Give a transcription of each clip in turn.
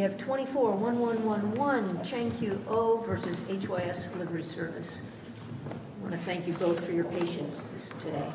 24-1111 Chang-Kyu Oh v. HYS Livery Service I want to thank you both for your patience today.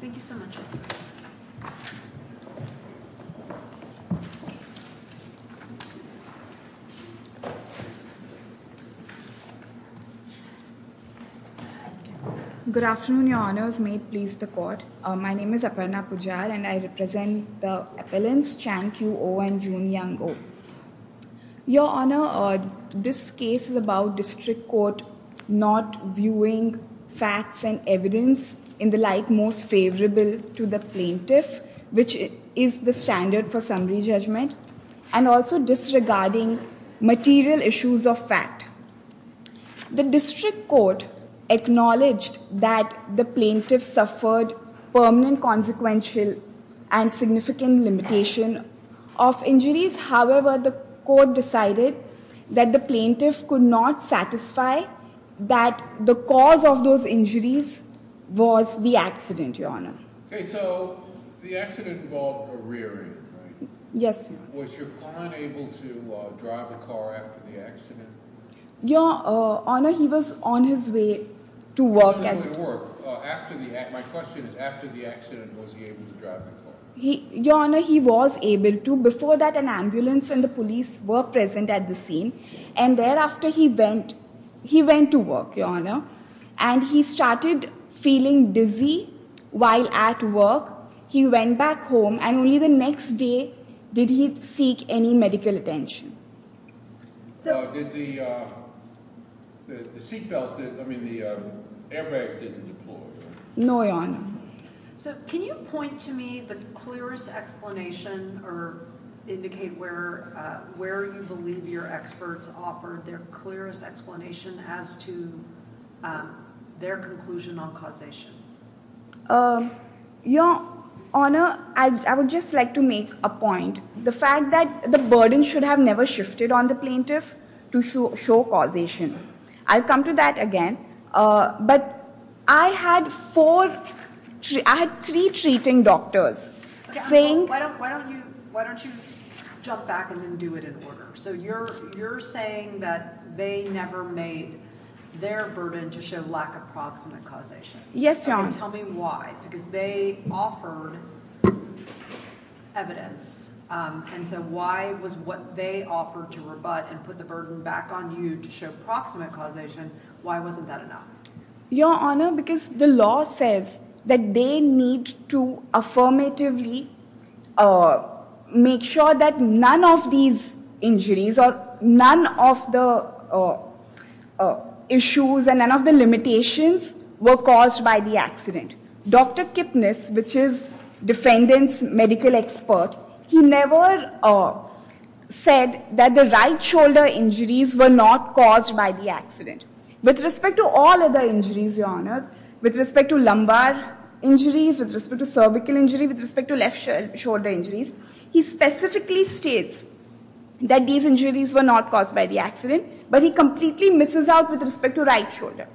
Thank you so much. Good afternoon, your honors. May it please the court. My name is Aparna Pujar and I represent the appellants Chang-Kyu Oh and Jun-Yang Oh. Your honor, this case is about district court not viewing facts and evidence in the light most favorable to the plaintiff, which is the standard for summary judgment, and also disregarding material issues of fact. The district court acknowledged that the plaintiff suffered permanent consequential and significant limitation of injuries. However, the court decided that the plaintiff could not satisfy that the cause of those injuries was the accident, your honor. Okay, so the accident involved a rear-end, right? Yes, your honor. Was your client able to drive the car after the accident? Your honor, he was on his way to work. After the accident, my question is, after the accident, was he able to drive the car? Your honor, he was able to. Before that, an ambulance and the police were present at the scene and thereafter he went to work, your honor, and he started feeling dizzy while at work. He went back home and only the next day did he seek any medical attention. Did the seatbelt, I mean the airbag, didn't deploy? No, your honor. So can you point to me the clearest explanation or indicate where you believe your experts offered their clearest explanation as to their conclusion on causation? Your honor, I would just like to make a point. The fact that the burden should have never shifted on the plaintiff to show causation. I'll come to that again, but I had four, I had three treating doctors saying- Why don't you jump back and then do it in order? So you're saying that they never made their burden to show lack of proximate causation. Yes, your honor. Tell me why, because they offered evidence and so why was what they offered to rebut and put the burden back on you to show proximate causation? Why wasn't that enough? Your honor, because the law says that they need to affirmatively make sure that none of these injuries or none of the issues and none of the limitations were caused by the accident. Dr. Kipnis, which is defendant's medical expert, he never said that the right shoulder injuries were not caused by the accident. With respect to all other injuries, your honor, with respect to lumbar injuries, with respect to cervical injury, with respect to left shoulder injuries, he specifically states that these injuries were not caused by the accident, but he completely misses out with respect to right shoulder.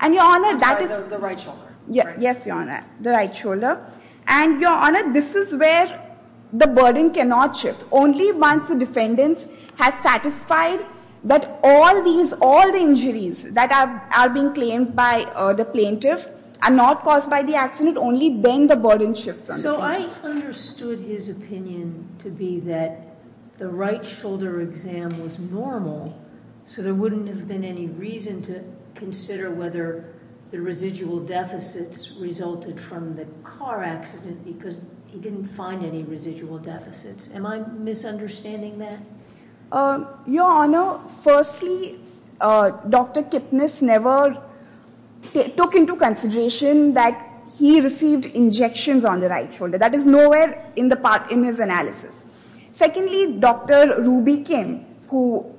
I'm sorry, the right shoulder? Yes, your honor, the right shoulder. And your honor, this is where the burden cannot shift. Only once the defendant has satisfied that all these, all the injuries that are being claimed by the plaintiff are not caused by the the right shoulder exam was normal, so there wouldn't have been any reason to consider whether the residual deficits resulted from the car accident because he didn't find any residual deficits. Am I misunderstanding that? Your honor, firstly, Dr. Kipnis never took into consideration that he received injections on the right shoulder. That is nowhere in the part in his analysis. Secondly, Dr. Ruby Kim, who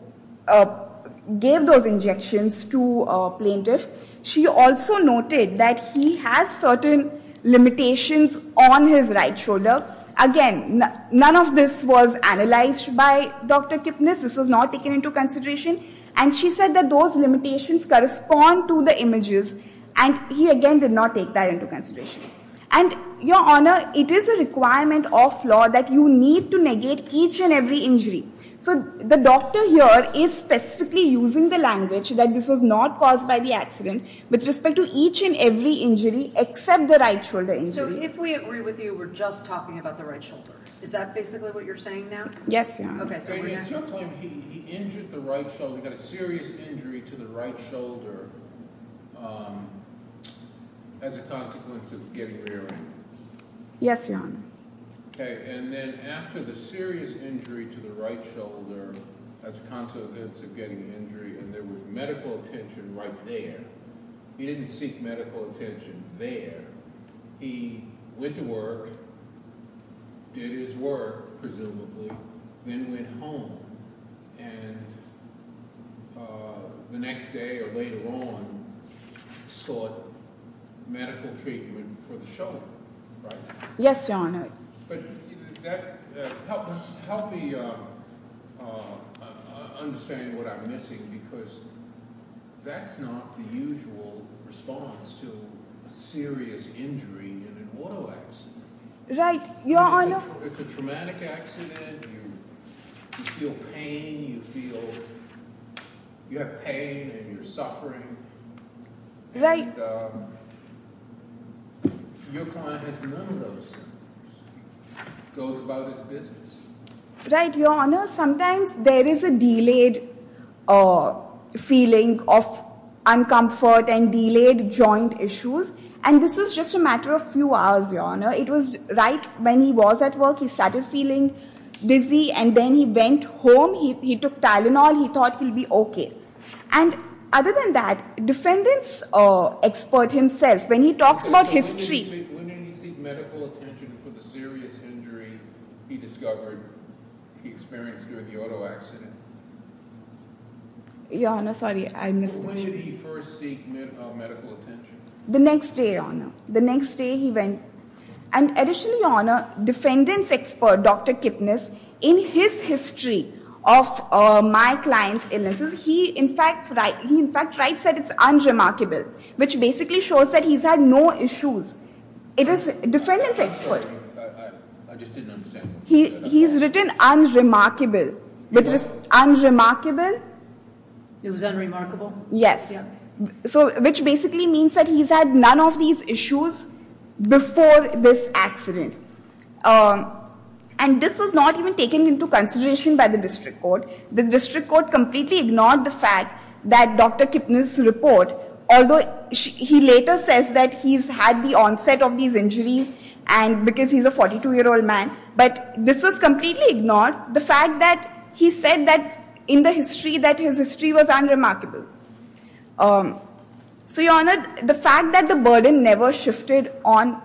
gave those injections to a plaintiff, she also noted that he has certain limitations on his right shoulder. Again, none of this was analyzed by Dr. Kipnis. This was not taken into consideration. And she said that those limitations correspond to the images. And he again did not take that into consideration. And your honor, it is a requirement of law that you need to negate each and every injury. So the doctor here is specifically using the language that this was not caused by the accident with respect to each and every injury except the right shoulder injury. So if we agree with you, we're just talking about the right shoulder. Is that basically what you're saying now? Yes, your honor. Okay, so in your claim, he injured the right shoulder, got a serious injury to the right shoulder as a consequence of getting an injury. Yes, your honor. Okay. And then after the serious injury to the right shoulder, as a consequence of getting an injury, and there was medical attention right there, he didn't seek medical attention there. He went to work, did his work, presumably, then went home. And the next day or later on, sought medical treatment for the shoulder. Right? Yes, your honor. But that helped me understand what I'm missing, because that's not the usual response to a serious injury in an auto accident. Right, your honor. It's a traumatic accident. You feel pain, you feel you have pain and you're suffering. Right. Your client has none of those things. It goes about his business. Right, your honor. Sometimes there is a delayed feeling of uncomfort and delayed joint issues. And this was just a matter of a few hours, your honor. It was right when he was at work, he started feeling dizzy, and then he went home, he took Tylenol, he thought he'll be okay. And other than that, defendant's expert himself, when he talks about history... Okay, so when did he seek medical attention for the serious injury he discovered, he experienced during the auto accident? Your honor, sorry, I missed... When did he first seek medical attention? The next day, your honor. The next day he went... And additionally, your honor, defendant's expert, Dr. Kipnis, in his history of my client's illnesses, he in fact writes that it's unremarkable, which basically shows that he's had no issues. It is defendant's expert. I just didn't understand. He's written unremarkable, which is unremarkable. It was unremarkable? Yes. So which basically means that he's had none of these issues before this accident. And this was not even taken into consideration by the district court. The district court completely ignored the fact that Dr. Kipnis' report, although he later says that he's had the onset of these injuries and because he's a 42-year-old man, but this was completely ignored. The fact that he said that in the history, that his history was unremarkable. So your honor, the fact that the burden never shifted on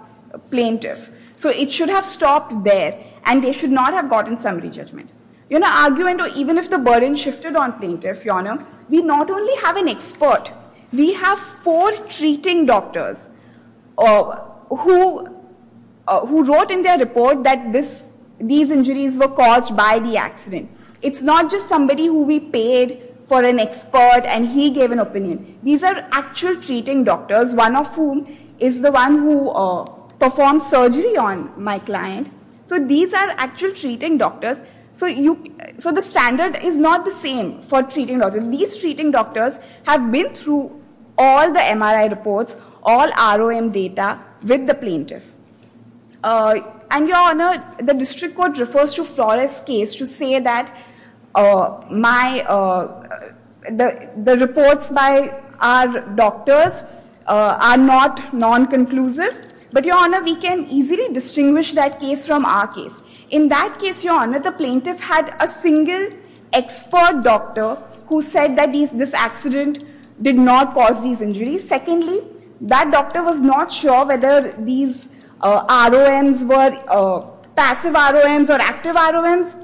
plaintiff, so it should have stopped there and they should not have gotten summary judgment. You know, even if the burden shifted on plaintiff, your honor, we not only have an expert, we have four treating doctors who wrote in their report that these injuries were caused by the accident. It's not just somebody who we paid for an expert and he gave an opinion. These are actual treating doctors, one of whom is the one who performed surgery on my client. So these are actual treating doctors. So the standard is not the same for treating doctors. These treating doctors have through all the MRI reports, all ROM data with the plaintiff. And your honor, the district court refers to Flores case to say that the reports by our doctors are not non-conclusive, but your honor, we can easily distinguish that case from our case. In that case, your honor, the plaintiff had a expert doctor who said that this accident did not cause these injuries. Secondly, that doctor was not sure whether these ROMs were passive ROMs or active ROMs.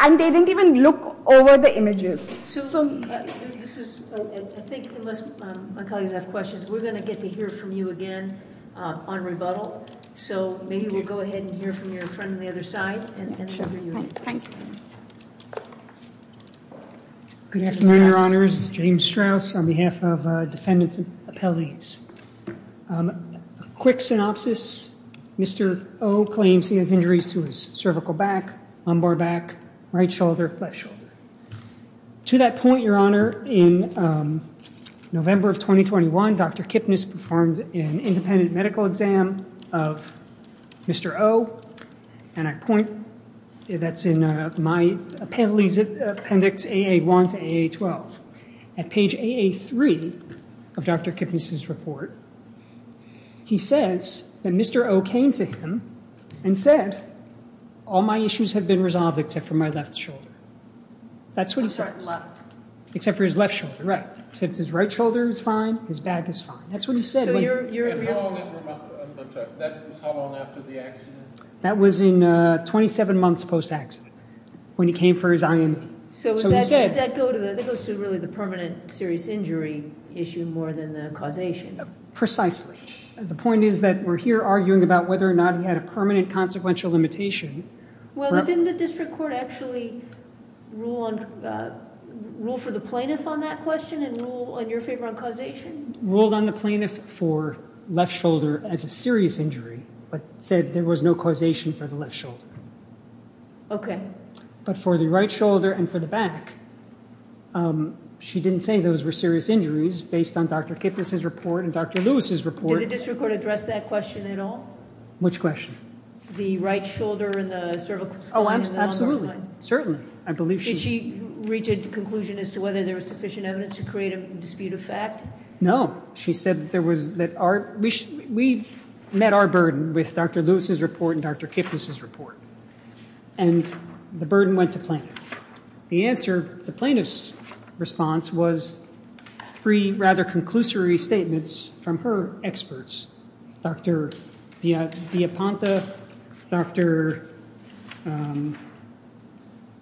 And they didn't even look over the images. I think unless my colleagues have questions, we're going to get to hear from you again on rebuttal. So maybe we'll go ahead and hear from your friend on the other side. Good afternoon, your honors. James Strauss on behalf of defendants and appellees. Quick synopsis. Mr. O claims he has injuries to his cervical back, lumbar back, right shoulder, left shoulder. To that point, your honor, in November of 2021, Dr. Kipnis performed an independent medical exam of Mr. O. And I point that's in my appendix AA1 to AA12. At page AA3 of Dr. Kipnis' report, he says that Mr. O came to him and said, all my issues have been resolved except for my left shoulder. That's what he says. Except for his left shoulder, right. Except his right shoulder is fine, his back is fine. That's what he said. And how long after the accident? That was in 27 months post-accident when he came for his IM. So does that go to the permanent serious injury issue more than the causation? Precisely. The point is that we're here arguing about whether or not he had a permanent consequential limitation. Well, didn't the district court actually rule for the plaintiff on that question and rule in your favor on causation? Ruled on the plaintiff for left shoulder as a serious injury, but said there was no causation for the left shoulder. Okay. But for the right shoulder and for the back, she didn't say those were serious injuries based on Dr. Kipnis' report and Dr. Lewis' report. Did the district court address that question at all? Which question? The right shoulder and the cervical spine? Oh, absolutely. Certainly. Did she reach a conclusion as to whether there was sufficient evidence to create a dispute of fact? No. We met our burden with Dr. Lewis' report and Dr. Kipnis' report. And the burden went to plaintiff. The answer to plaintiff's response was three conclusory statements from her experts, Dr. Villapanta, Dr.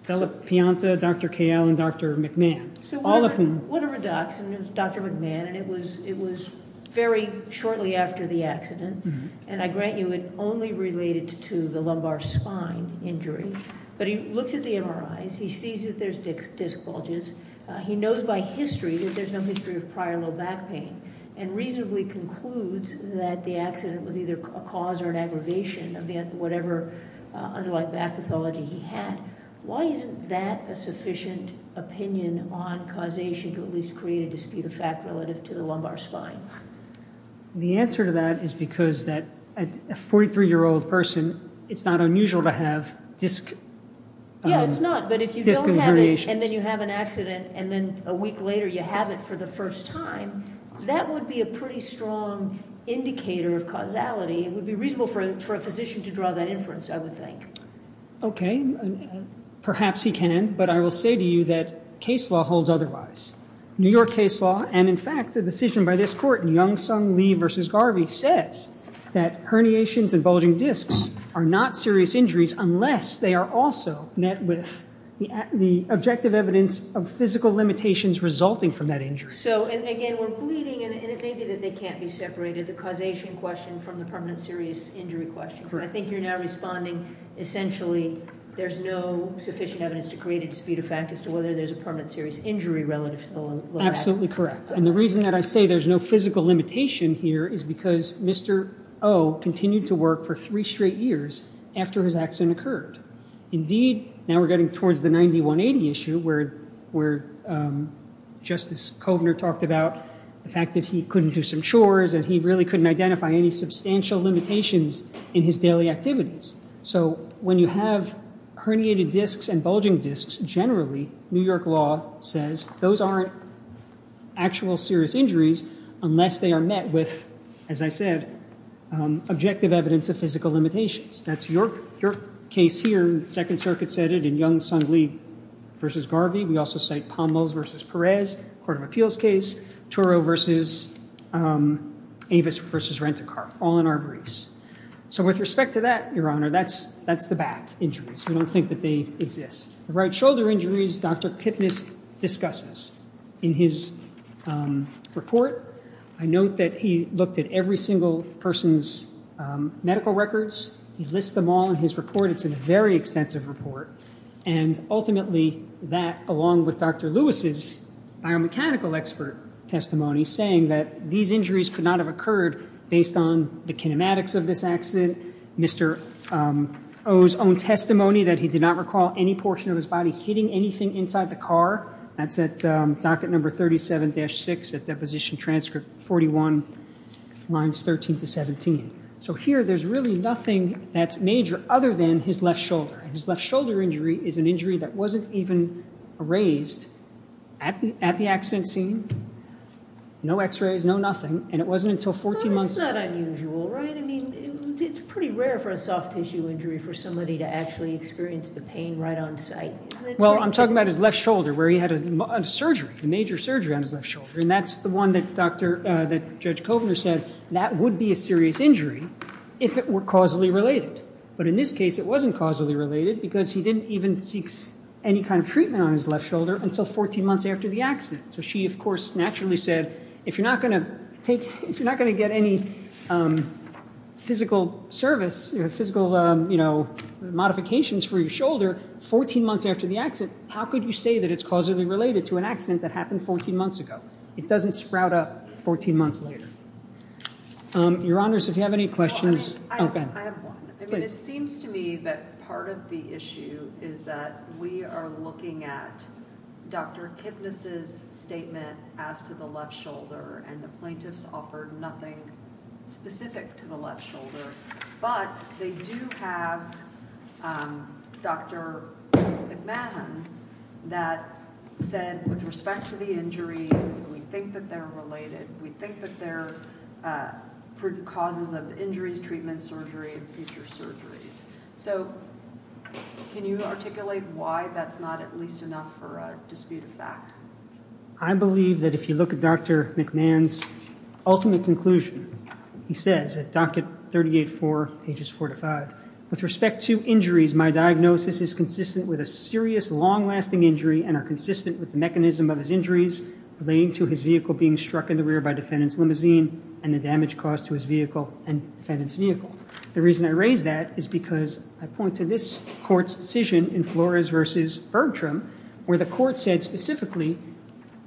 Pianta, Dr. Kael, and Dr. McMahon. One of her docs, Dr. McMahon, and it was very shortly after the accident. And I grant you, it only related to the lumbar spine injury. But he looks at the MRIs. He sees that there's disc bulges. He knows by history that there's no history of prior low back pain and reasonably concludes that the accident was either a cause or an aggravation of whatever underlying back pathology he had. Why isn't that a sufficient opinion on causation to at least create a dispute of fact relative to the lumbar spine? The answer to that is because that a 43-year-old person, it's not unusual to have disc... Yeah, it's not. But if you don't have it and then you have an accident and then a week later you have it for the first time, that would be a pretty strong indicator of causality. It would be reasonable for a physician to draw that inference, I would think. Okay. Perhaps he can. But I will say to you that case law holds otherwise. New York case law, and in fact, the decision by this court, Young-Sung Lee v. Garvey, says that herniations and bulging discs are not serious injuries unless they are also met with the objective evidence of physical limitations resulting from that injury. So, and again, we're bleeding and it may be that they can't be separated, the causation question from the permanent serious injury question. Correct. I think you're now responding, essentially, there's no sufficient evidence to create a dispute of fact as to whether there's a permanent serious injury relative to the low back. Absolutely correct. And the reason that I say there's no physical limitation here is because Mr. O continued to work for three straight years after his accident occurred. Indeed, now we're getting towards the 9180 issue where Justice Kovner talked about the fact that he couldn't do some chores and he really couldn't identify any substantial limitations in his daily activities. So when you have herniated discs and bulging discs, generally, New York law says those aren't actual serious injuries unless they are met with, as I said, objective evidence of physical limitations. That's York case here, Second Circuit said it in Young-Sung Lee v. Garvey. We also cite Pommels v. Perez, Court of Appeals case, Turo v. Avis v. Rent-a-Car, all in our briefs. So with respect to that, Your Honor, that's the back injuries. We don't think that they exist. The right shoulder injuries, Dr. Kipnis discusses in his report. I note that he looked at every single person's medical records. He lists them all in his report. It's a very extensive report. And ultimately, that along with Dr. Lewis's biomechanical expert testimony saying that these injuries could not have occurred based on the kinematics of this accident, Mr. O's own testimony that he did not recall any portion of his body hitting anything inside the car. That's at docket number 37-6 at deposition transcript 41, lines 13 to 17. So here, there's really nothing that's major other than his left shoulder. And his left shoulder injury is an injury that wasn't even raised at the accident scene. No x-rays, no nothing. And it wasn't until 14 months... But it's not unusual, right? I mean, it's pretty rare for a soft tissue injury for somebody to experience the pain right on site, isn't it? Well, I'm talking about his left shoulder where he had a surgery, a major surgery on his left shoulder. And that's the one that Judge Kovner said that would be a serious injury if it were causally related. But in this case, it wasn't causally related because he didn't even seek any kind of treatment on his left shoulder until 14 months after the accident. So she, of course, naturally said, if you're not going to get any physical service, physical modifications for your shoulder 14 months after the accident, how could you say that it's causally related to an accident that happened 14 months ago? It doesn't sprout up 14 months later. Your Honors, if you have any questions... I have one. I mean, it seems to me that part of the issue is that we are looking at Dr. Kipnis' statement as to the left shoulder, and the plaintiffs offered nothing specific to the left shoulder. But they do have Dr. McMahon that said, with respect to the injuries, we think that they're related. We think that they're causes of injuries, treatment, surgery, and future surgeries. So can you articulate why that's not at least enough for a dispute of fact? I believe that if you look at Dr. McMahon's ultimate conclusion, he says at docket 38-4, pages 4 to 5, with respect to injuries, my diagnosis is consistent with a serious, long-lasting injury and are consistent with the mechanism of his injuries relating to his vehicle being struck in the rear by defendant's limousine and the damage caused to his vehicle and defendant's vehicle. The reason I raise that is because I point to this Court's decision in Flores v. Bergstrom, where the Court said specifically,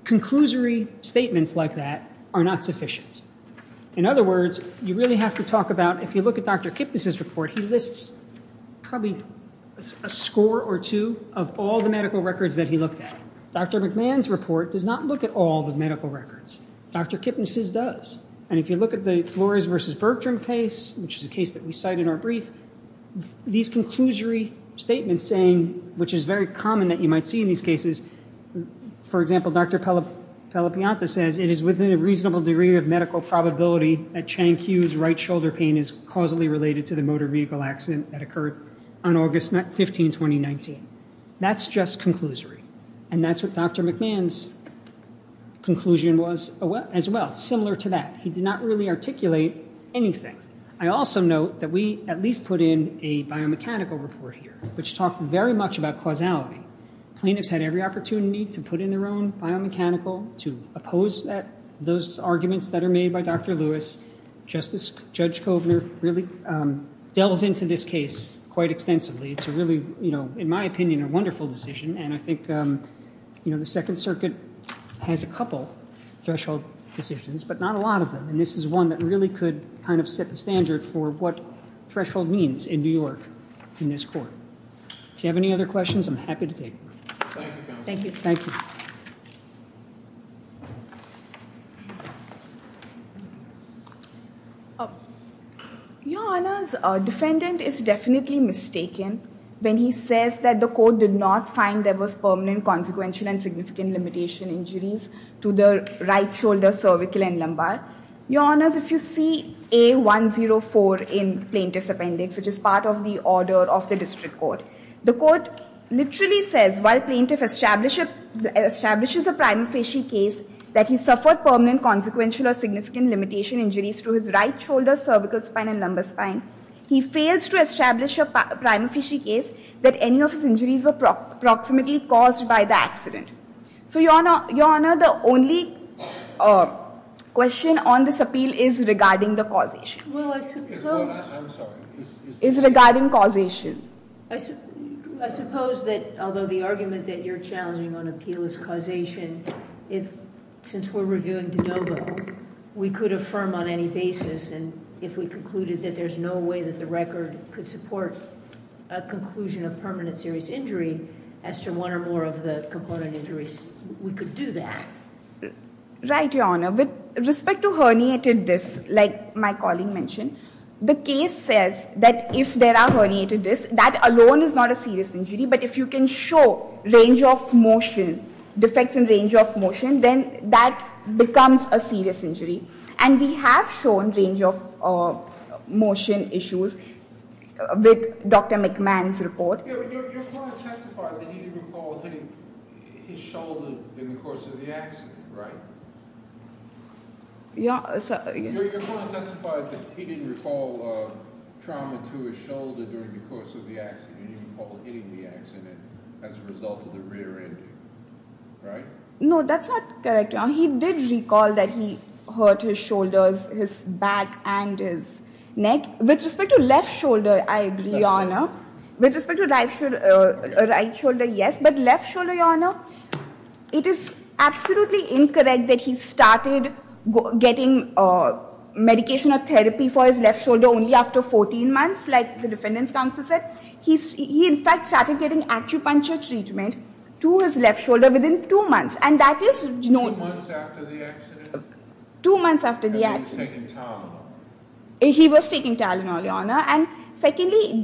conclusory statements like that are not sufficient. In other words, you really have to talk about, if you look at Dr. Kipnis' report, he lists probably a score or two of all the medical records that he looked at. Dr. McMahon's report does not look at all the medical records. Dr. Kipnis' does. And if you look at the Flores v. Bergstrom case, which is a case that we cite in our brief, these conclusory statements saying, which is very common that you might see in these cases, for example, Dr. Pellapianto says, it is within a reasonable degree of medical probability that Chang-Q's right shoulder pain is causally related to the motor vehicle accident that occurred on August 15, 2019. That's just conclusory. And that's what Dr. McMahon's conclusion was as well, similar to that. He did not really articulate anything. I also note that we at least put in a biomechanical report which talked very much about causality. Plaintiffs had every opportunity to put in their own biomechanical to oppose those arguments that are made by Dr. Lewis. Justice Judge Kovner really delved into this case quite extensively. It's a really, in my opinion, a wonderful decision. And I think the Second Circuit has a couple threshold decisions, but not a lot of them. And this is one that really could kind of set the standard for what threshold means in New York in this court. If you have any other questions, I'm happy to take them. Thank you, counsel. Thank you. Thank you. Your Honors, defendant is definitely mistaken when he says that the court did not find there was permanent consequential and significant limitation injuries to the right shoulder, cervical, and lumbar. Your Honors, if you see A104 in plaintiff's appendix, which is part of of the district court, the court literally says, while plaintiff establishes a prima facie case that he suffered permanent consequential or significant limitation injuries to his right shoulder, cervical spine, and lumbar spine, he fails to establish a prima facie case that any of his injuries were approximately caused by the accident. So Your Honor, the only question on this appeal is regarding the causation. Well, I suppose that, although the argument that you're challenging on appeal is causation, since we're reviewing de novo, we could affirm on any basis, and if we concluded that there's no way that the record could support a conclusion of permanent serious injury, as to one or more of the component injuries, we could do that. Right, Your Honor. With respect to herniated discs, like my colleague mentioned, the case says that if there are herniated discs, that alone is not a serious injury, but if you can show range of motion, defects in range of motion, then that becomes a serious injury. And we have shown range of motion issues with Dr. McMahon's report. Your client testified that he didn't recall his shoulder in the course of the accident, right? Your client testified that he didn't recall trauma to his shoulder during the course of the accident, he recalled hitting the accident as a result of the rear-ending, right? No, that's not correct, Your Honor. He did recall that he hurt his shoulders, his back, and his neck. With respect to left shoulder, I agree, Your Honor. With respect to right shoulder, yes, but left shoulder, Your Honor, it is absolutely incorrect that he started getting medication or therapy for his left shoulder only after 14 months, like the Defendant's Counsel said. He in fact started getting acupuncture treatment to his left shoulder within two months, and that is- Two months after the accident? Two months after the accident. Because he was taking Tylenol? He was taking Tylenol, Your Honor, and secondly,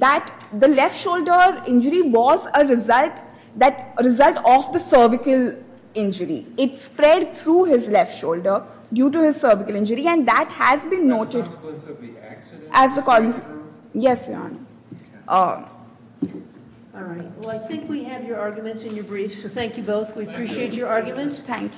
the left shoulder injury was a result of the cervical injury. It spread through his left shoulder due to his cervical injury, and that has been noted- As a consequence of the accident? As a consequence- Yes, Your Honor. All right. Well, I think we have your arguments in your brief, so thank you both. We appreciate your arguments. Thank you.